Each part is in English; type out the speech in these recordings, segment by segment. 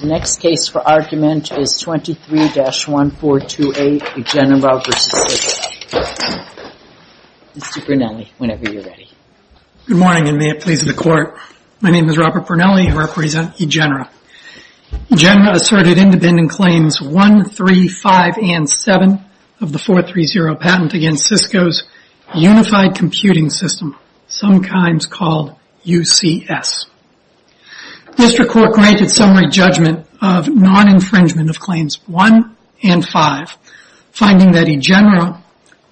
The next case for argument is 23-1428, Egenera v. Cisco. Mr. Brunelli, whenever you're ready. Good morning, and may it please the Court. My name is Robert Brunelli. I represent Egenera. Egenera asserted independent claims 135 and 7 of the 430 patent against Cisco's Unified Computing System, sometimes called UCS. District Court granted summary judgment of non-infringement of claims 1 and 5, finding that Egenera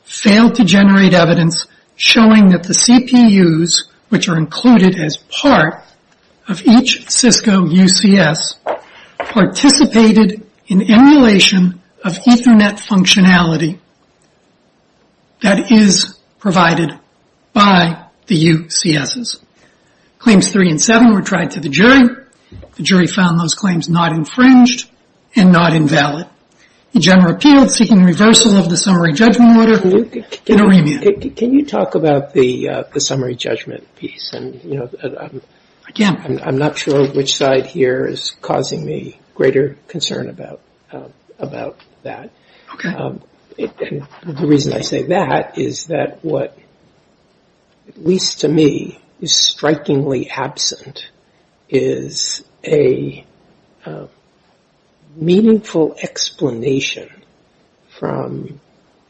failed to generate evidence showing that the CPUs, which are included as part of each Cisco UCS, participated in emulation of Ethernet functionality that is provided by the UCSs. Claims 3 and 7 were tried to the jury. The jury found those claims not infringed and not invalid. Egenera appealed, seeking reversal of the summary judgment order and a remand. Can you talk about the summary judgment piece? I'm not sure which side here is causing me greater concern about that. The reason I say that is that what, at least to me, is strikingly absent is a meaningful explanation from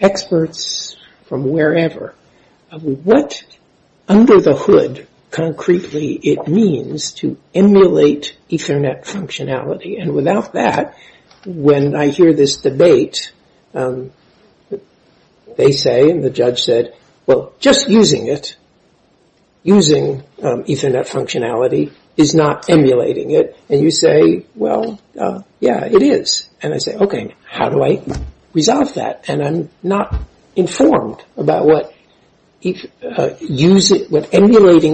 experts from wherever of what under the hood, concretely, it means to emulate Ethernet functionality. And without that, when I hear this debate, they say and the judge said, well, just using it, using Ethernet functionality is not emulating it. And you say, well, yeah, it is. And I say, okay, how do I resolve that? And I'm not informed about what emulating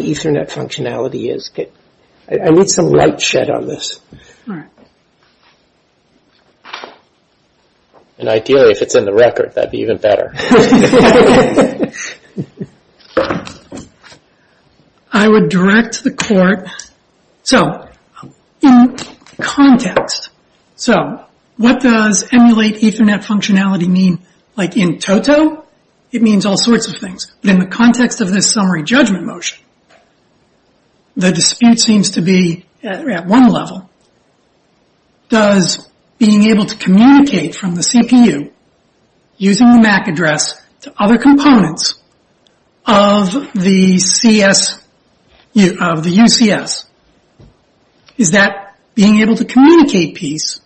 Ethernet functionality is. I need some light shed on this. All right. And ideally, if it's in the record, that would be even better. I would direct the court. So in context, so what does emulate Ethernet functionality mean? Like in toto, it means all sorts of things. But in the context of this summary judgment motion, the dispute seems to be at one level. Does being able to communicate from the CPU using the MAC address to other components of the UCS, is that being able to communicate piece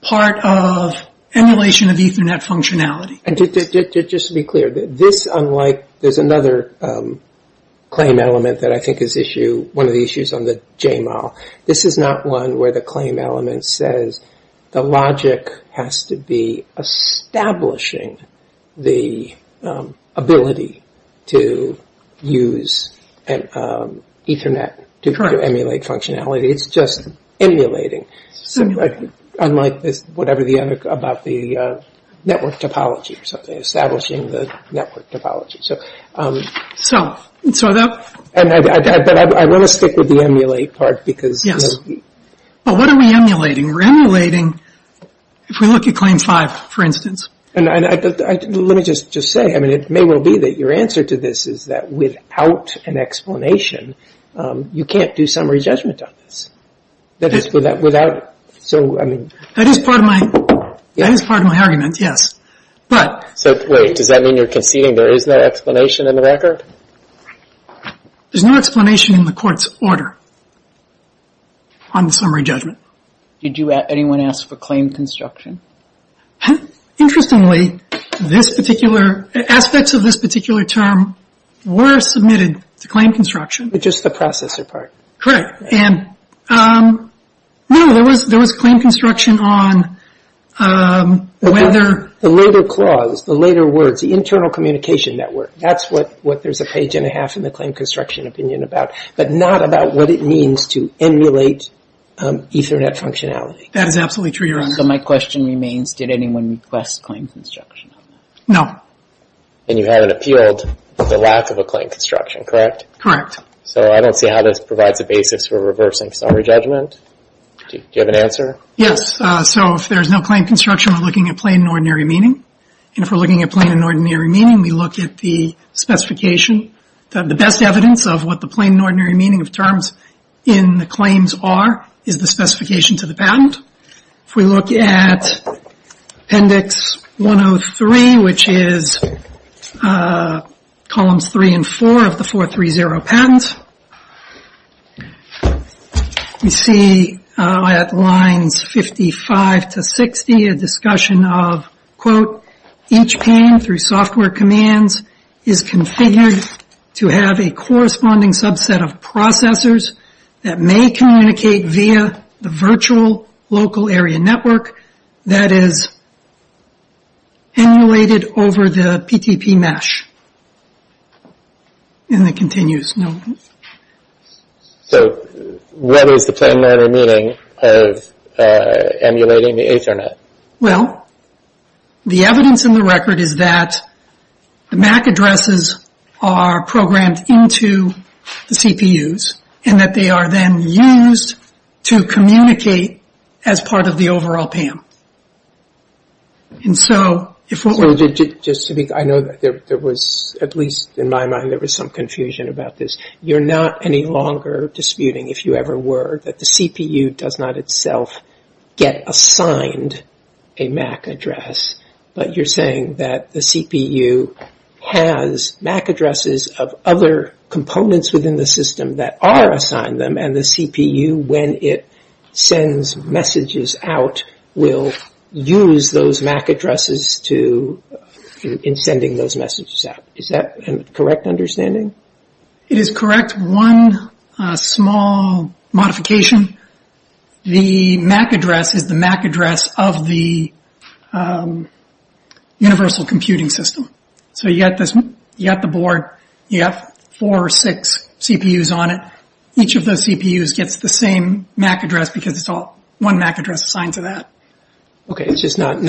part of emulation of Ethernet functionality? Just to be clear, there's another claim element that I think is one of the issues on the JML. This is not one where the claim element says the logic has to be establishing the ability to use Ethernet to emulate functionality. It's just emulating. Unlike whatever the other, about the network topology or something. Establishing the network topology. But I want to stick with the emulate part. Yes. But what are we emulating? We're emulating, if we look at claim five, for instance. Let me just say, it may well be that your answer to this is that without an explanation, you can't do summary judgment on this. That is part of my argument, yes. So wait, does that mean you're conceding there is no explanation in the record? There's no explanation in the court's order on the summary judgment. Did anyone ask for claim construction? Interestingly, aspects of this particular term were submitted to claim construction. Just the processor part. Correct. And no, there was claim construction on whether. The later clause, the later words, the internal communication network, that's what there's a page and a half in the claim construction opinion about, but not about what it means to emulate Ethernet functionality. That is absolutely true, Your Honor. So my question remains, did anyone request claim construction? No. And you haven't appealed for the lack of a claim construction, correct? Correct. So I don't see how this provides a basis for reversing summary judgment. Do you have an answer? Yes. So if there's no claim construction, we're looking at plain and ordinary meaning. And if we're looking at plain and ordinary meaning, we look at the specification. The best evidence of what the plain and ordinary meaning of terms in the claims are is the specification to the patent. If we look at Appendix 103, which is columns three and four of the 430 patent, we see at lines 55 to 60 a discussion of, quote, each pane through software commands is configured to have a corresponding subset of processors that may communicate via the virtual local area network that is emulated over the PTP mesh. And it continues. So what is the plain and ordinary meaning of emulating the Ethernet? Well, the evidence in the record is that the MAC addresses are programmed into the CPUs and that they are then used to communicate as part of the overall PAM. And so if what we're... Just to be... I know that there was, at least in my mind, there was some confusion about this. You're not any longer disputing, if you ever were, that the CPU does not itself get assigned a MAC address, but you're saying that the CPU has MAC addresses of other components within the system that are assigned them, and the CPU, when it sends messages out, will use those MAC addresses in sending those messages out. Is that a correct understanding? It is correct. Except one small modification. The MAC address is the MAC address of the universal computing system. So you've got the board, you've got four or six CPUs on it. Each of those CPUs gets the same MAC address because it's all one MAC address assigned to that. Okay, it's just not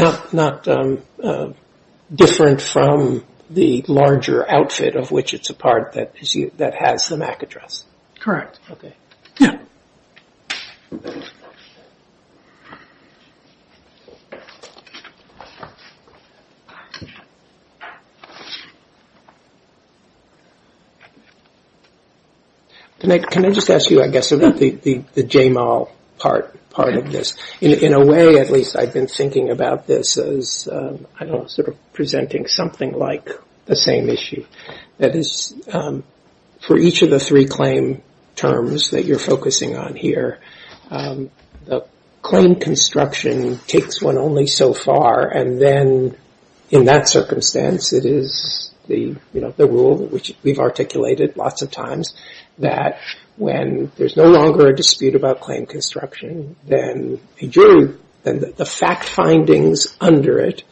different from the larger outfit of which it's a part that has the MAC address. Okay. Yeah. Can I just ask you, I guess, about the JMAL part of this? In a way, at least, I've been thinking about this as, I don't know, sort of presenting something like the same issue. That is, for each of the three claim terms that you're focusing on here, the claim construction takes one only so far, and then, in that circumstance, it is the rule, which we've articulated lots of times, that when there's no longer a dispute about claim construction, then the fact findings under it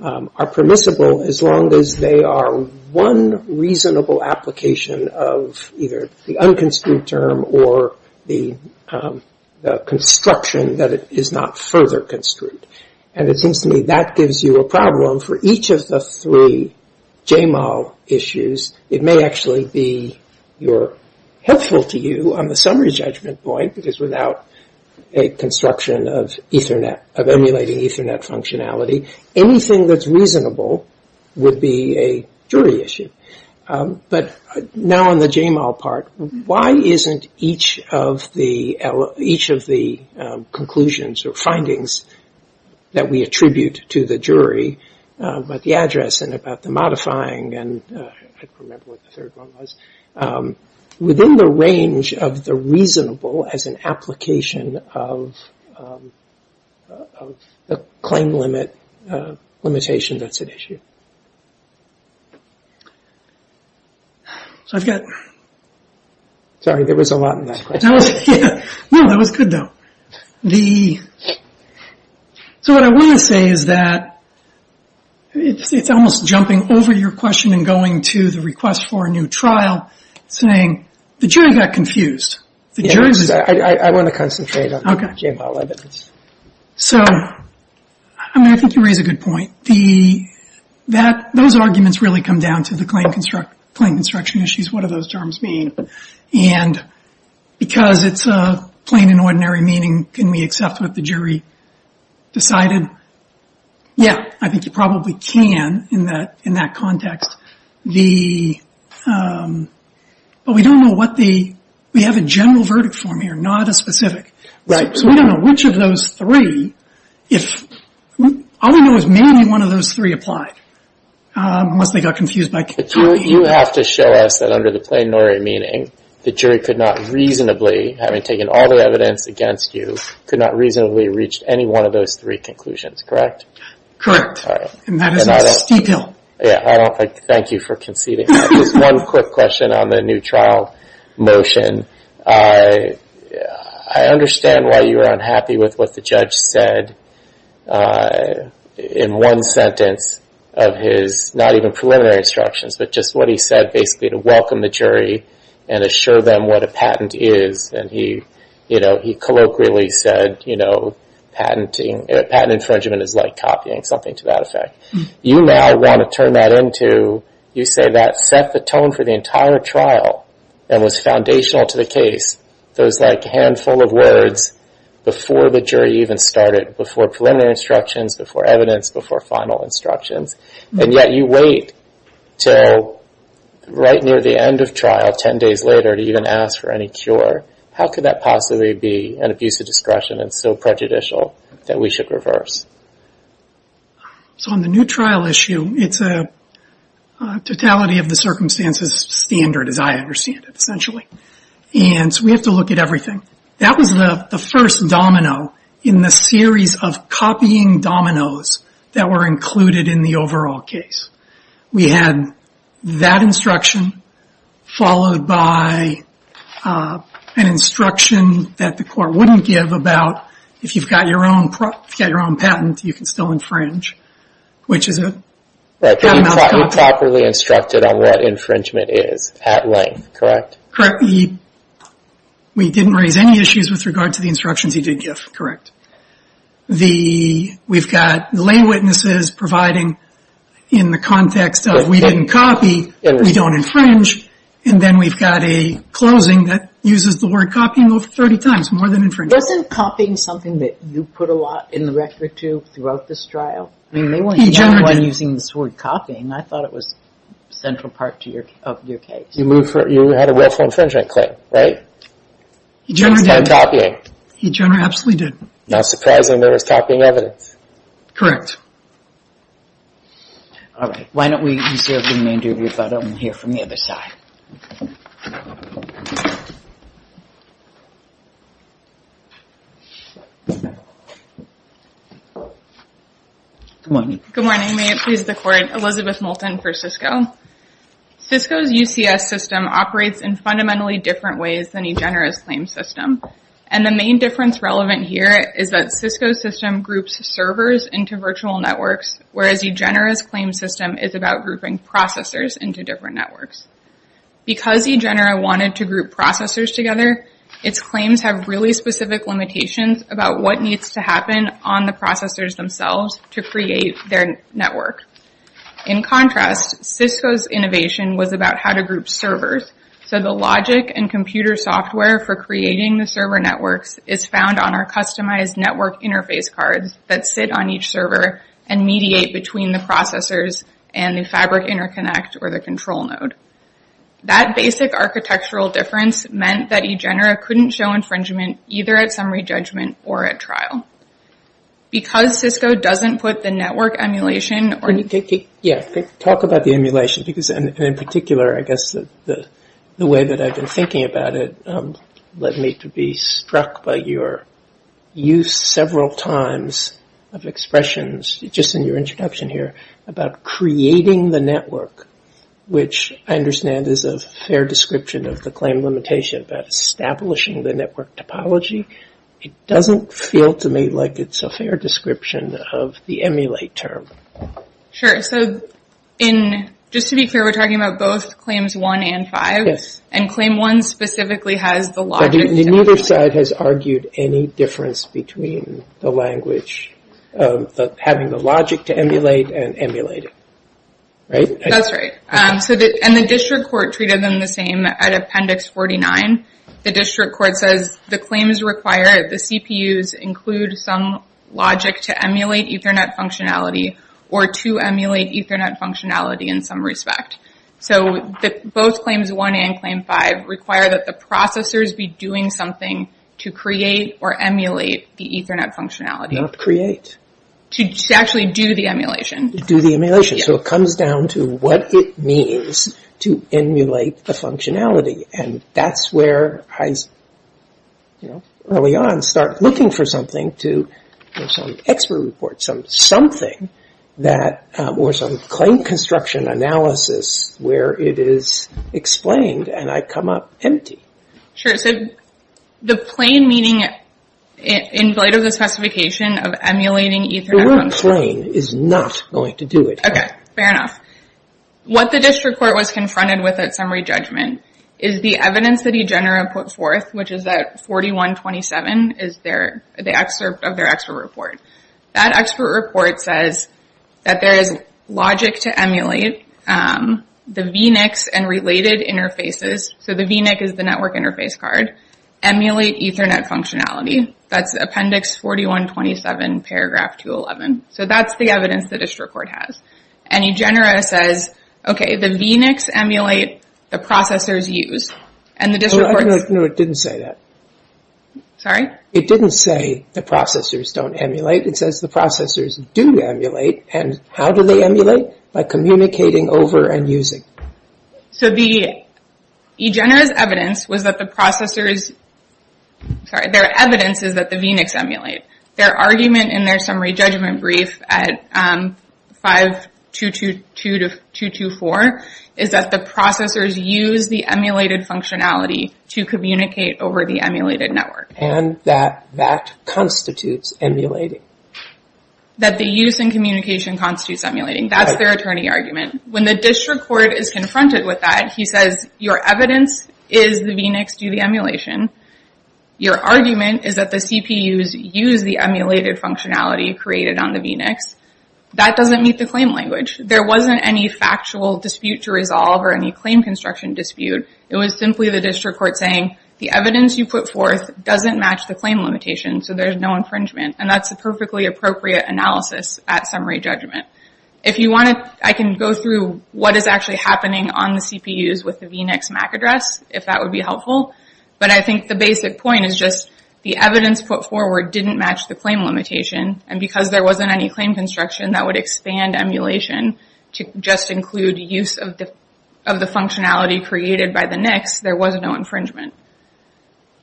are permissible as long as they are one reasonable application of either the unconstrued term or the construction that is not further construed. And it seems to me that gives you a problem for each of the three JMAL issues. It may actually be helpful to you on the summary judgment point, because without a construction of emulating Ethernet functionality, anything that's reasonable would be a jury issue. But now on the JMAL part, why isn't each of the conclusions or findings that we attribute to the jury about the address and about the modifying, and I can't remember what the third one was, within the range of the reasonable as an application of the claim limit limitation that's at issue? So I've got... Sorry, there was a lot in that question. No, that was good, though. So what I want to say is that it's almost jumping over your question and going to the request for a new trial, saying the jury got confused. Yes, I want to concentrate on the JMAL evidence. So I think you raise a good point. Those arguments really come down to the claim construction issues. What do those terms mean? And because it's a plain and ordinary meaning, can we accept what the jury decided? Yeah, I think you probably can in that context. But we don't know what the... We have a general verdict form here, not a specific. So we don't know which of those three, if... All we know is maybe one of those three applied, unless they got confused by... You have to show us that under the plain and ordinary meaning, the jury could not reasonably, having taken all the evidence against you, could not reasonably reach any one of those three conclusions, correct? Correct. And that is in this detail. Thank you for conceding. Just one quick question on the new trial motion. I understand why you were unhappy with what the judge said in one sentence of his not even preliminary instructions, but just what he said basically to welcome the jury and assure them what a patent is. And he colloquially said, you know, patent infringement is like copying, something to that effect. You now want to turn that into... You say that set the tone for the entire trial and was foundational to the case. Those, like, handful of words before the jury even started, before preliminary instructions, before evidence, before final instructions, and yet you wait till right near the end of trial, 10 days later, to even ask for any cure. How could that possibly be an abuse of discretion and so prejudicial that we should reverse? So on the new trial issue, it's a totality of the circumstances standard, as I understand it, essentially. And so we have to look at everything. That was the first domino in the series of copying dominoes that were included in the overall case. We had that instruction followed by an instruction that the court wouldn't give about if you've got your own patent, you can still infringe, which is a... Right, but you properly instructed on what infringement is at length, correct? Correct. We didn't raise any issues with regard to the instructions he did give, correct. We've got the lay witnesses providing in the context of we didn't copy, we don't infringe, and then we've got a closing that uses the word copying over 30 times, more than infringement. Wasn't copying something that you put a lot in the record, too, throughout this trial? I mean, they weren't using this word copying. I thought it was central part of your case. You had a willful infringement claim, right? He generally did. It's not copying. He generally absolutely did. Not surprising there was copying evidence. All right. Why don't we reserve the interview if I don't want to hear from the other side. Good morning. Good morning. May it please the Court. Elizabeth Moulton for Cisco. Cisco's UCS system operates in fundamentally different ways than EGENERA's claim system. And the main difference relevant here is that Cisco's system groups servers into virtual networks, whereas EGENERA's claim system is about grouping processors into different networks. Because EGENERA wanted to group processors together, its claims have really specific limitations about what needs to happen on the processors themselves to create their network. In contrast, Cisco's innovation was about how to group servers. So the logic and computer software for creating the server networks is found on our customized network interface cards that sit on each server and mediate between the processors and the fabric interconnect or the control node. That basic architectural difference meant that EGENERA couldn't show infringement either at summary judgment or at trial. Because Cisco doesn't put the network emulation or... Yeah. Talk about the emulation because in particular, I guess, the way that I've been thinking about it led me to be struck by your use several times of expressions, just in your introduction here, about creating the network, which I understand is a fair description of the claim limitation about establishing the network topology. It doesn't feel to me like it's a fair description of the emulate term. So just to be clear, we're talking about both Claims 1 and 5. Yes. And Claim 1 specifically has the logic... Neither side has argued any difference between the language, having the logic to emulate and emulating, right? That's right. And the district court treated them the same at Appendix 49. The district court says the claims require the CPUs include some logic to emulate Ethernet functionality or to emulate Ethernet functionality in some respect. So both Claims 1 and Claim 5 require that the processors be doing something to create or emulate the Ethernet functionality. Not create. To actually do the emulation. Do the emulation. So it comes down to what it means to emulate the functionality. And that's where I, you know, early on, start looking for something to, you know, some expert report, something that, or some claim construction analysis where it is explained and I come up empty. Sure. So the plain meaning in light of the specification of emulating Ethernet functionality... The word plain is not going to do it. Okay. Fair enough. What the district court was confronted with at summary judgment is the evidence that EGENERA put forth, which is that 4127 is the excerpt of their expert report. That expert report says that there is logic to emulate the VNICs and related interfaces. So the VNIC is the network interface card. Emulate Ethernet functionality. That's Appendix 4127, Paragraph 211. So that's the evidence the district court has. And EGENERA says, okay, the VNICs emulate, the processors use. And the district court... No, it didn't say that. Sorry? It didn't say the processors don't emulate. It says the processors do emulate. And how do they emulate? By communicating over and using. So the EGENERA's evidence was that the processors... Sorry, their evidence is that the VNICs emulate. Their argument in their summary judgment brief at 5222-224 is that the processors use the emulated functionality to communicate over the emulated network. And that that constitutes emulating. That the use and communication constitutes emulating. That's their attorney argument. When the district court is confronted with that, he says your evidence is the VNICs do the emulation. Your argument is that the CPUs use the emulated functionality created on the VNICs. That doesn't meet the claim language. There wasn't any factual dispute to resolve or any claim construction dispute. It was simply the district court saying, the evidence you put forth doesn't match the claim limitation, so there's no infringement. And that's a perfectly appropriate analysis at summary judgment. If you want to... I can go through what is actually happening on the CPUs with the VNICs MAC address, if that would be helpful. But I think the basic point is just the evidence put forward didn't match the claim limitation. And because there wasn't any claim construction that would expand emulation to just include use of the functionality created by the VNICs, there was no infringement.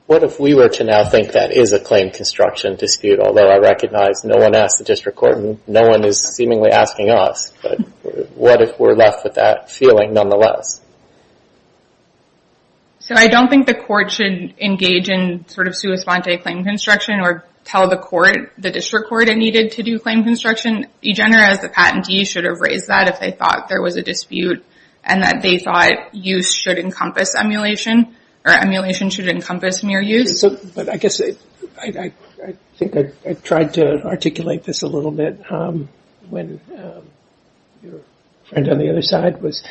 What if we were to now think that is a claim construction dispute, although I recognize no one asked the district court and no one is seemingly asking us. What if we're left with that feeling nonetheless? So I don't think the court should engage in sort of sua sponte claim construction or tell the court, the district court, it needed to do claim construction. EGENER, as the patentee, should have raised that if they thought there was a dispute and that they thought use should encompass emulation or emulation should encompass mere use. But I guess I think I tried to articulate this a little bit when your friend on the other side was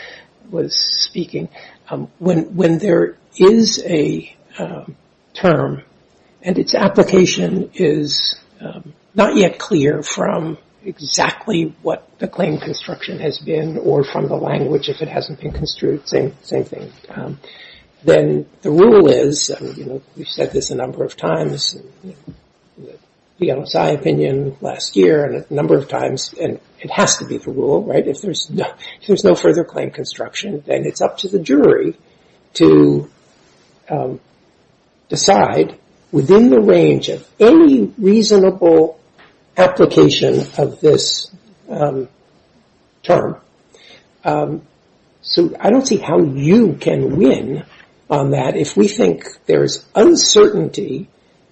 speaking. When there is a term and its application is not yet clear from exactly what the claim construction has been or from the language if it hasn't been construed, same thing. Then the rule is, we've said this a number of times, the LSI opinion last year and a number of times, and it has to be the rule, right? If there's no further claim construction, then it's up to the jury to decide within the range of any reasonable application of this term. So I don't see how you can win on that If we think there's uncertainty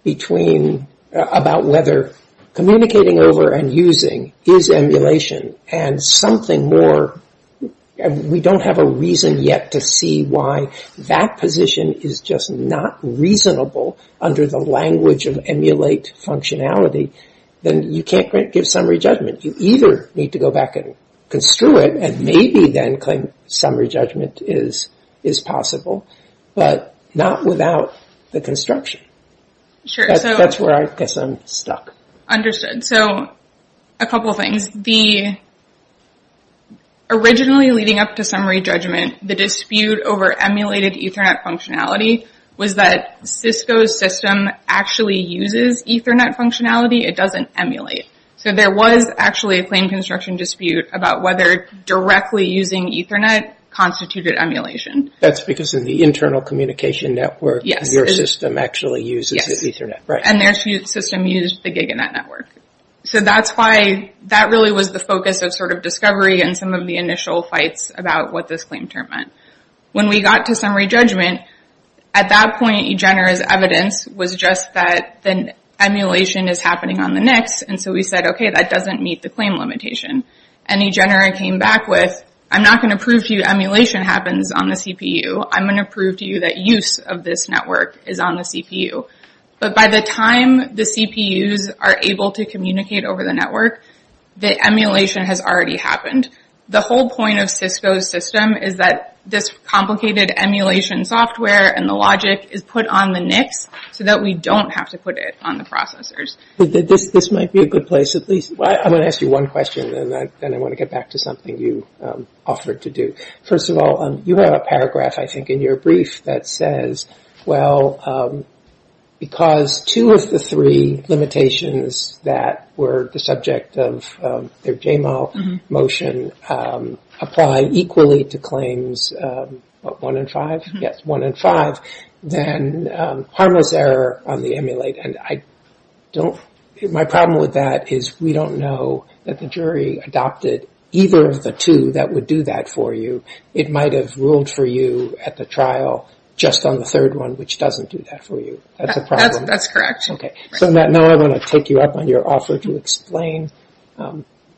about whether communicating over and using is emulation and we don't have a reason yet to see why that position is just not reasonable under the language of emulate functionality, then you can't give summary judgment. You either need to go back and construe it and maybe then claim summary judgment is possible. But not without the construction. That's where I guess I'm stuck. Understood. So a couple things. Originally leading up to summary judgment, the dispute over emulated Ethernet functionality was that Cisco's system actually uses Ethernet functionality. It doesn't emulate. So there was actually a claim construction dispute about whether directly using Ethernet constituted emulation. That's because in the internal communication network, your system actually uses Ethernet. And their system used the GigaNet network. So that's why that really was the focus of discovery in some of the initial fights about what this claim term meant. When we got to summary judgment, at that point eGenera's evidence was just that emulation is happening on the NICs. And so we said, okay, that doesn't meet the claim limitation. And eGenera came back with, I'm not going to prove to you emulation happens on the CPU. I'm going to prove to you that use of this network is on the CPU. But by the time the CPUs are able to communicate over the network, the emulation has already happened. The whole point of Cisco's system is that this complicated emulation software and the logic is put on the NICs so that we don't have to put it on the processors. This might be a good place at least. I'm going to ask you one question, and then I want to get back to something you offered to do. First of all, you have a paragraph, I think, in your brief that says, well, because two of the three limitations that were the subject of their JML motion apply equally to claims one and five, then harmless error on the emulate. My problem with that is we don't know that the jury adopted either of the two that would do that for you. It might have ruled for you at the trial just on the third one which doesn't do that for you. That's a problem. That's correct. Now I want to take you up on your offer to explain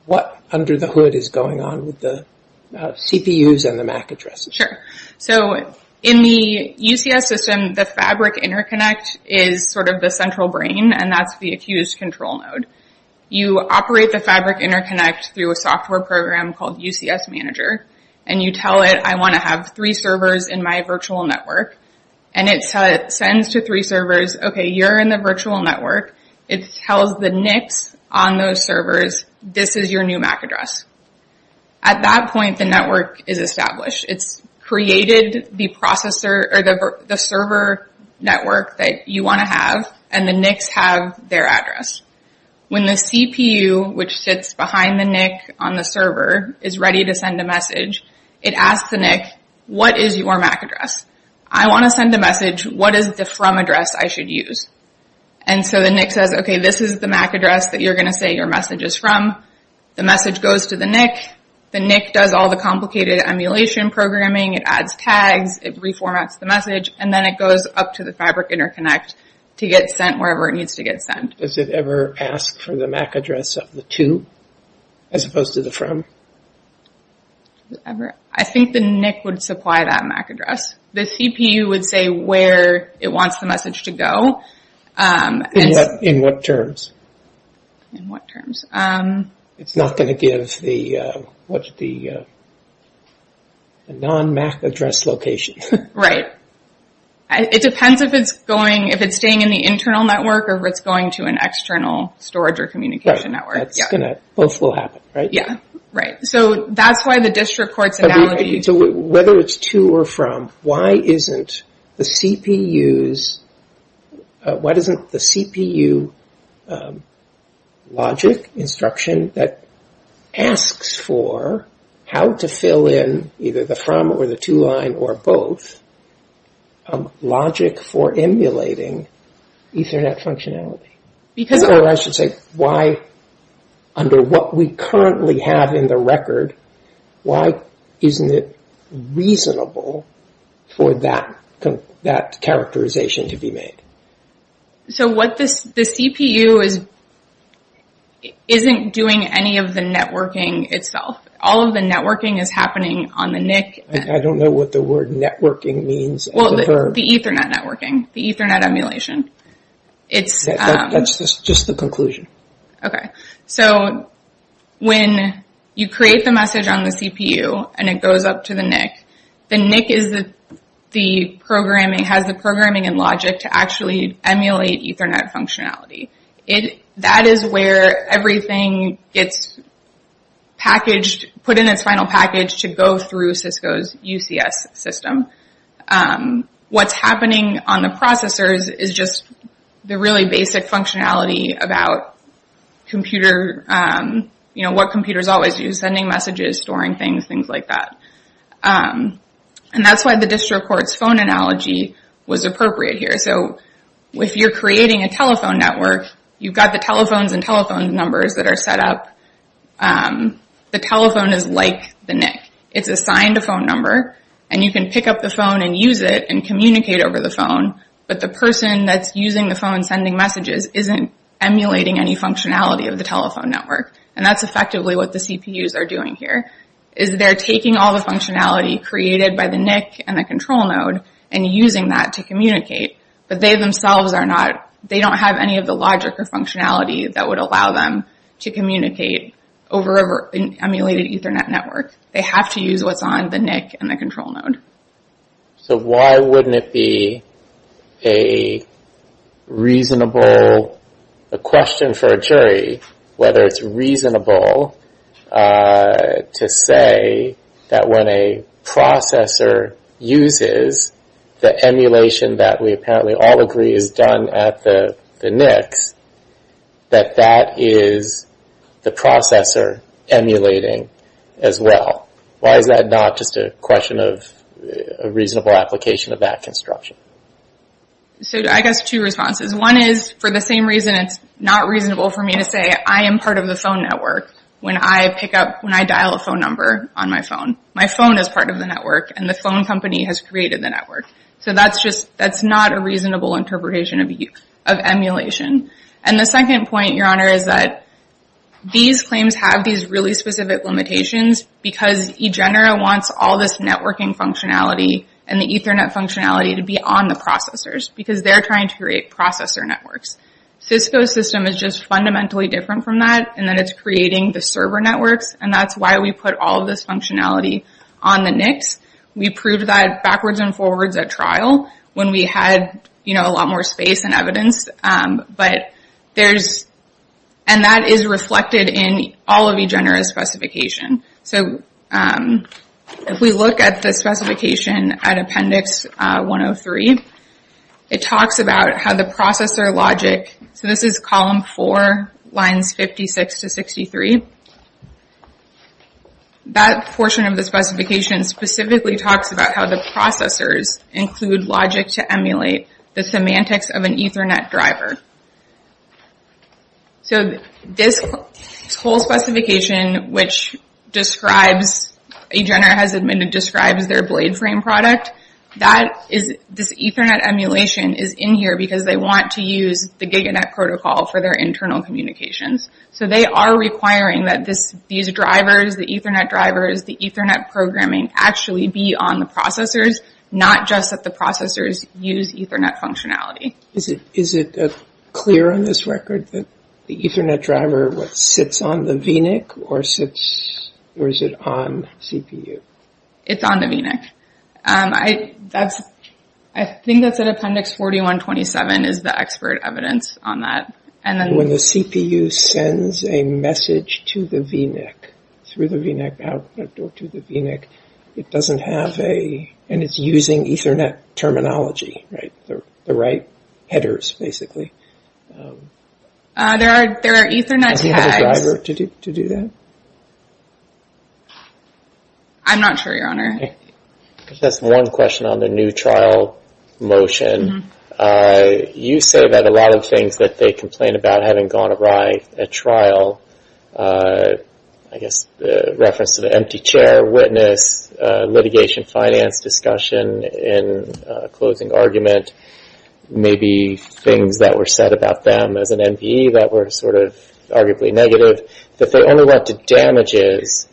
what under the hood is going on with the CPUs and the MAC addresses. Sure. In the UCS system, the Fabric Interconnect is sort of the central brain, and that's the accused control node. You operate the Fabric Interconnect through a software program called UCS Manager, and you tell it, I want to have three servers in my virtual network, and it sends to three servers, okay, you're in the virtual network. It tells the NICs on those servers, this is your new MAC address. At that point, the network is established. It's created the server network that you want to have, and the NICs have their address. When the CPU, which sits behind the NIC on the server, is ready to send a message, it asks the NIC, what is your MAC address? I want to send a message. What is the from address I should use? And so the NIC says, okay, this is the MAC address that you're going to say your message is from. The message goes to the NIC. The NIC does all the complicated emulation programming. It adds tags. It reformats the message, and then it goes up to the Fabric Interconnect to get sent wherever it needs to get sent. Does it ever ask for the MAC address of the to as opposed to the from? I think the NIC would supply that MAC address. The CPU would say where it wants the message to go. In what terms? In what terms? It's not going to give the non-MAC address location. Right. It depends if it's staying in the internal network or if it's going to an external storage or communication network. Both will happen, right? Yeah, right. So that's why the district court's analogy. So whether it's to or from, why isn't the CPU logic instruction that asks for how to fill in either the from or the to line or both logic for emulating Ethernet functionality? Because I should say why under what we currently have in the record, why isn't it reasonable for that characterization to be made? So the CPU isn't doing any of the networking itself. All of the networking is happening on the NIC. I don't know what the word networking means. Well, the Ethernet networking, the Ethernet emulation. That's just the conclusion. Okay. So when you create the message on the CPU and it goes up to the NIC, the NIC has the programming and logic to actually emulate Ethernet functionality. That is where everything gets packaged, put in its final package to go through Cisco's UCS system. What's happening on the processors is just the really basic functionality about what computers always use. Sending messages, storing things, things like that. And that's why the district court's phone analogy was appropriate here. So if you're creating a telephone network, you've got the telephones and telephone numbers that are set up. The telephone is like the NIC. It's assigned a phone number and you can pick up the phone and use it and communicate over the phone, but the person that's using the phone and sending messages isn't emulating any functionality of the telephone network. And that's effectively what the CPUs are doing here, is they're taking all the functionality created by the NIC and the control node and using that to communicate, but they themselves don't have any of the logic or functionality that would allow them to communicate over an emulated Ethernet network. They have to use what's on the NIC and the control node. So why wouldn't it be a reasonable question for a jury whether it's reasonable to say that when a processor uses the emulation that we apparently all agree is done at the NICs, that that is the processor emulating as well? Why is that not just a question of a reasonable application of that construction? So I guess two responses. One is for the same reason it's not reasonable for me to say I am part of the phone network when I dial a phone number on my phone. My phone is part of the network and the phone company has created the network. So that's not a reasonable interpretation of emulation. And the second point, Your Honor, is that these claims have these really specific limitations because eGenera wants all this networking functionality and the Ethernet functionality to be on the processors because they're trying to create processor networks. Cisco's system is just fundamentally different from that in that it's creating the server networks and that's why we put all this functionality on the NICs. We proved that backwards and forwards at trial when we had a lot more space and evidence. And that is reflected in all of eGenera's specification. So if we look at the specification at Appendix 103, it talks about how the processor logic, so this is Column 4, Lines 56 to 63. That portion of the specification specifically talks about how the processors include logic to emulate the semantics of an Ethernet driver. So this whole specification which describes, eGenera has admitted describes their BladeFrame product, this Ethernet emulation is in here because they want to use the GigaNet protocol for their internal communications. So they are requiring that these drivers, the Ethernet drivers, the Ethernet programming, actually be on the processors, not just that the processors use Ethernet functionality. Is it clear on this record that the Ethernet driver sits on the vNIC or is it on CPU? It's on the vNIC. I think that's in Appendix 4127 is the expert evidence on that. When the CPU sends a message to the vNIC, through the vNIC output or to the vNIC, it doesn't have a, and it's using Ethernet terminology, the right headers basically. There are Ethernet tags. Does it have a driver to do that? I'm not sure, Your Honor. Just one question on the new trial motion. You say that a lot of things that they complain about having gone awry at trial, I guess reference to the empty chair, witness, litigation finance discussion in closing argument, maybe things that were said about them as an MBE that were sort of arguably negative, that they only went to damages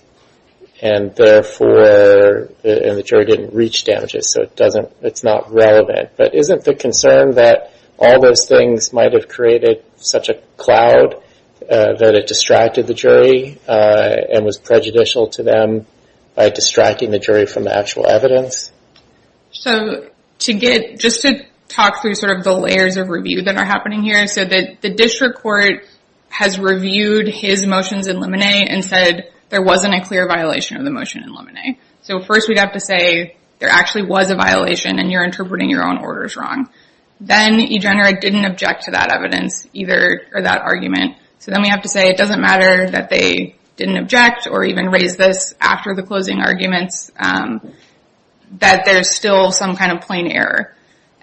and therefore the jury didn't reach damages, so it's not relevant. But isn't the concern that all those things might have created such a cloud that it distracted the jury and was prejudicial to them by distracting the jury from the actual evidence? Just to talk through sort of the layers of review that are happening here, so the district court has reviewed his motions in Lemonet and said there wasn't a clear violation of the motion in Lemonet. So first we'd have to say there actually was a violation and you're interpreting your own orders wrong. Then EGENERA didn't object to that evidence or that argument. So then we have to say it doesn't matter that they didn't object or even raise this after the closing arguments, that there's still some kind of plain error.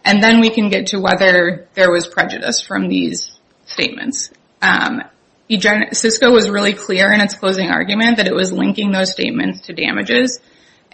And then we can get to whether there was prejudice from these statements. CISCO was really clear in its closing argument that it was linking those statements to damages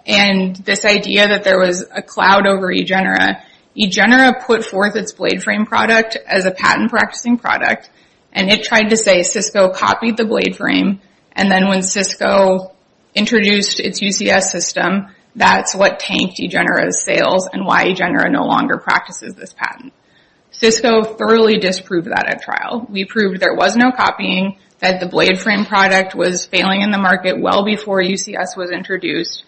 and this idea that there was a cloud over EGENERA, EGENERA put forth its BladeFrame product as a patent practicing product and it tried to say CISCO copied the BladeFrame and then when CISCO introduced its UCS system, that's what tanked EGENERA's sales and why EGENERA no longer practices this patent. CISCO thoroughly disproved that at trial. We proved there was no copying, that the BladeFrame product was failing in the market well before UCS was introduced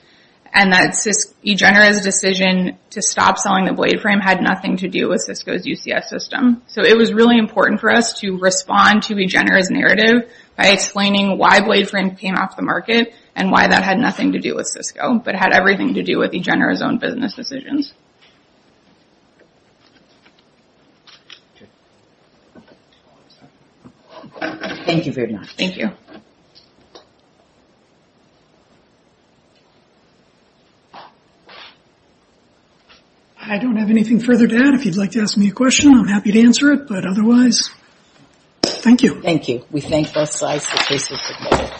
and that EGENERA's decision to stop selling the BladeFrame had nothing to do with CISCO's UCS system. So it was really important for us to respond to EGENERA's narrative by explaining why BladeFrame came off the market and why that had nothing to do with CISCO but had everything to do with EGENERA's own business decisions. Thank you very much. Thank you. I don't have anything further to add. If you'd like to ask me a question, I'm happy to answer it, but otherwise, thank you. Thank you. We thank both sides. This case was submitted.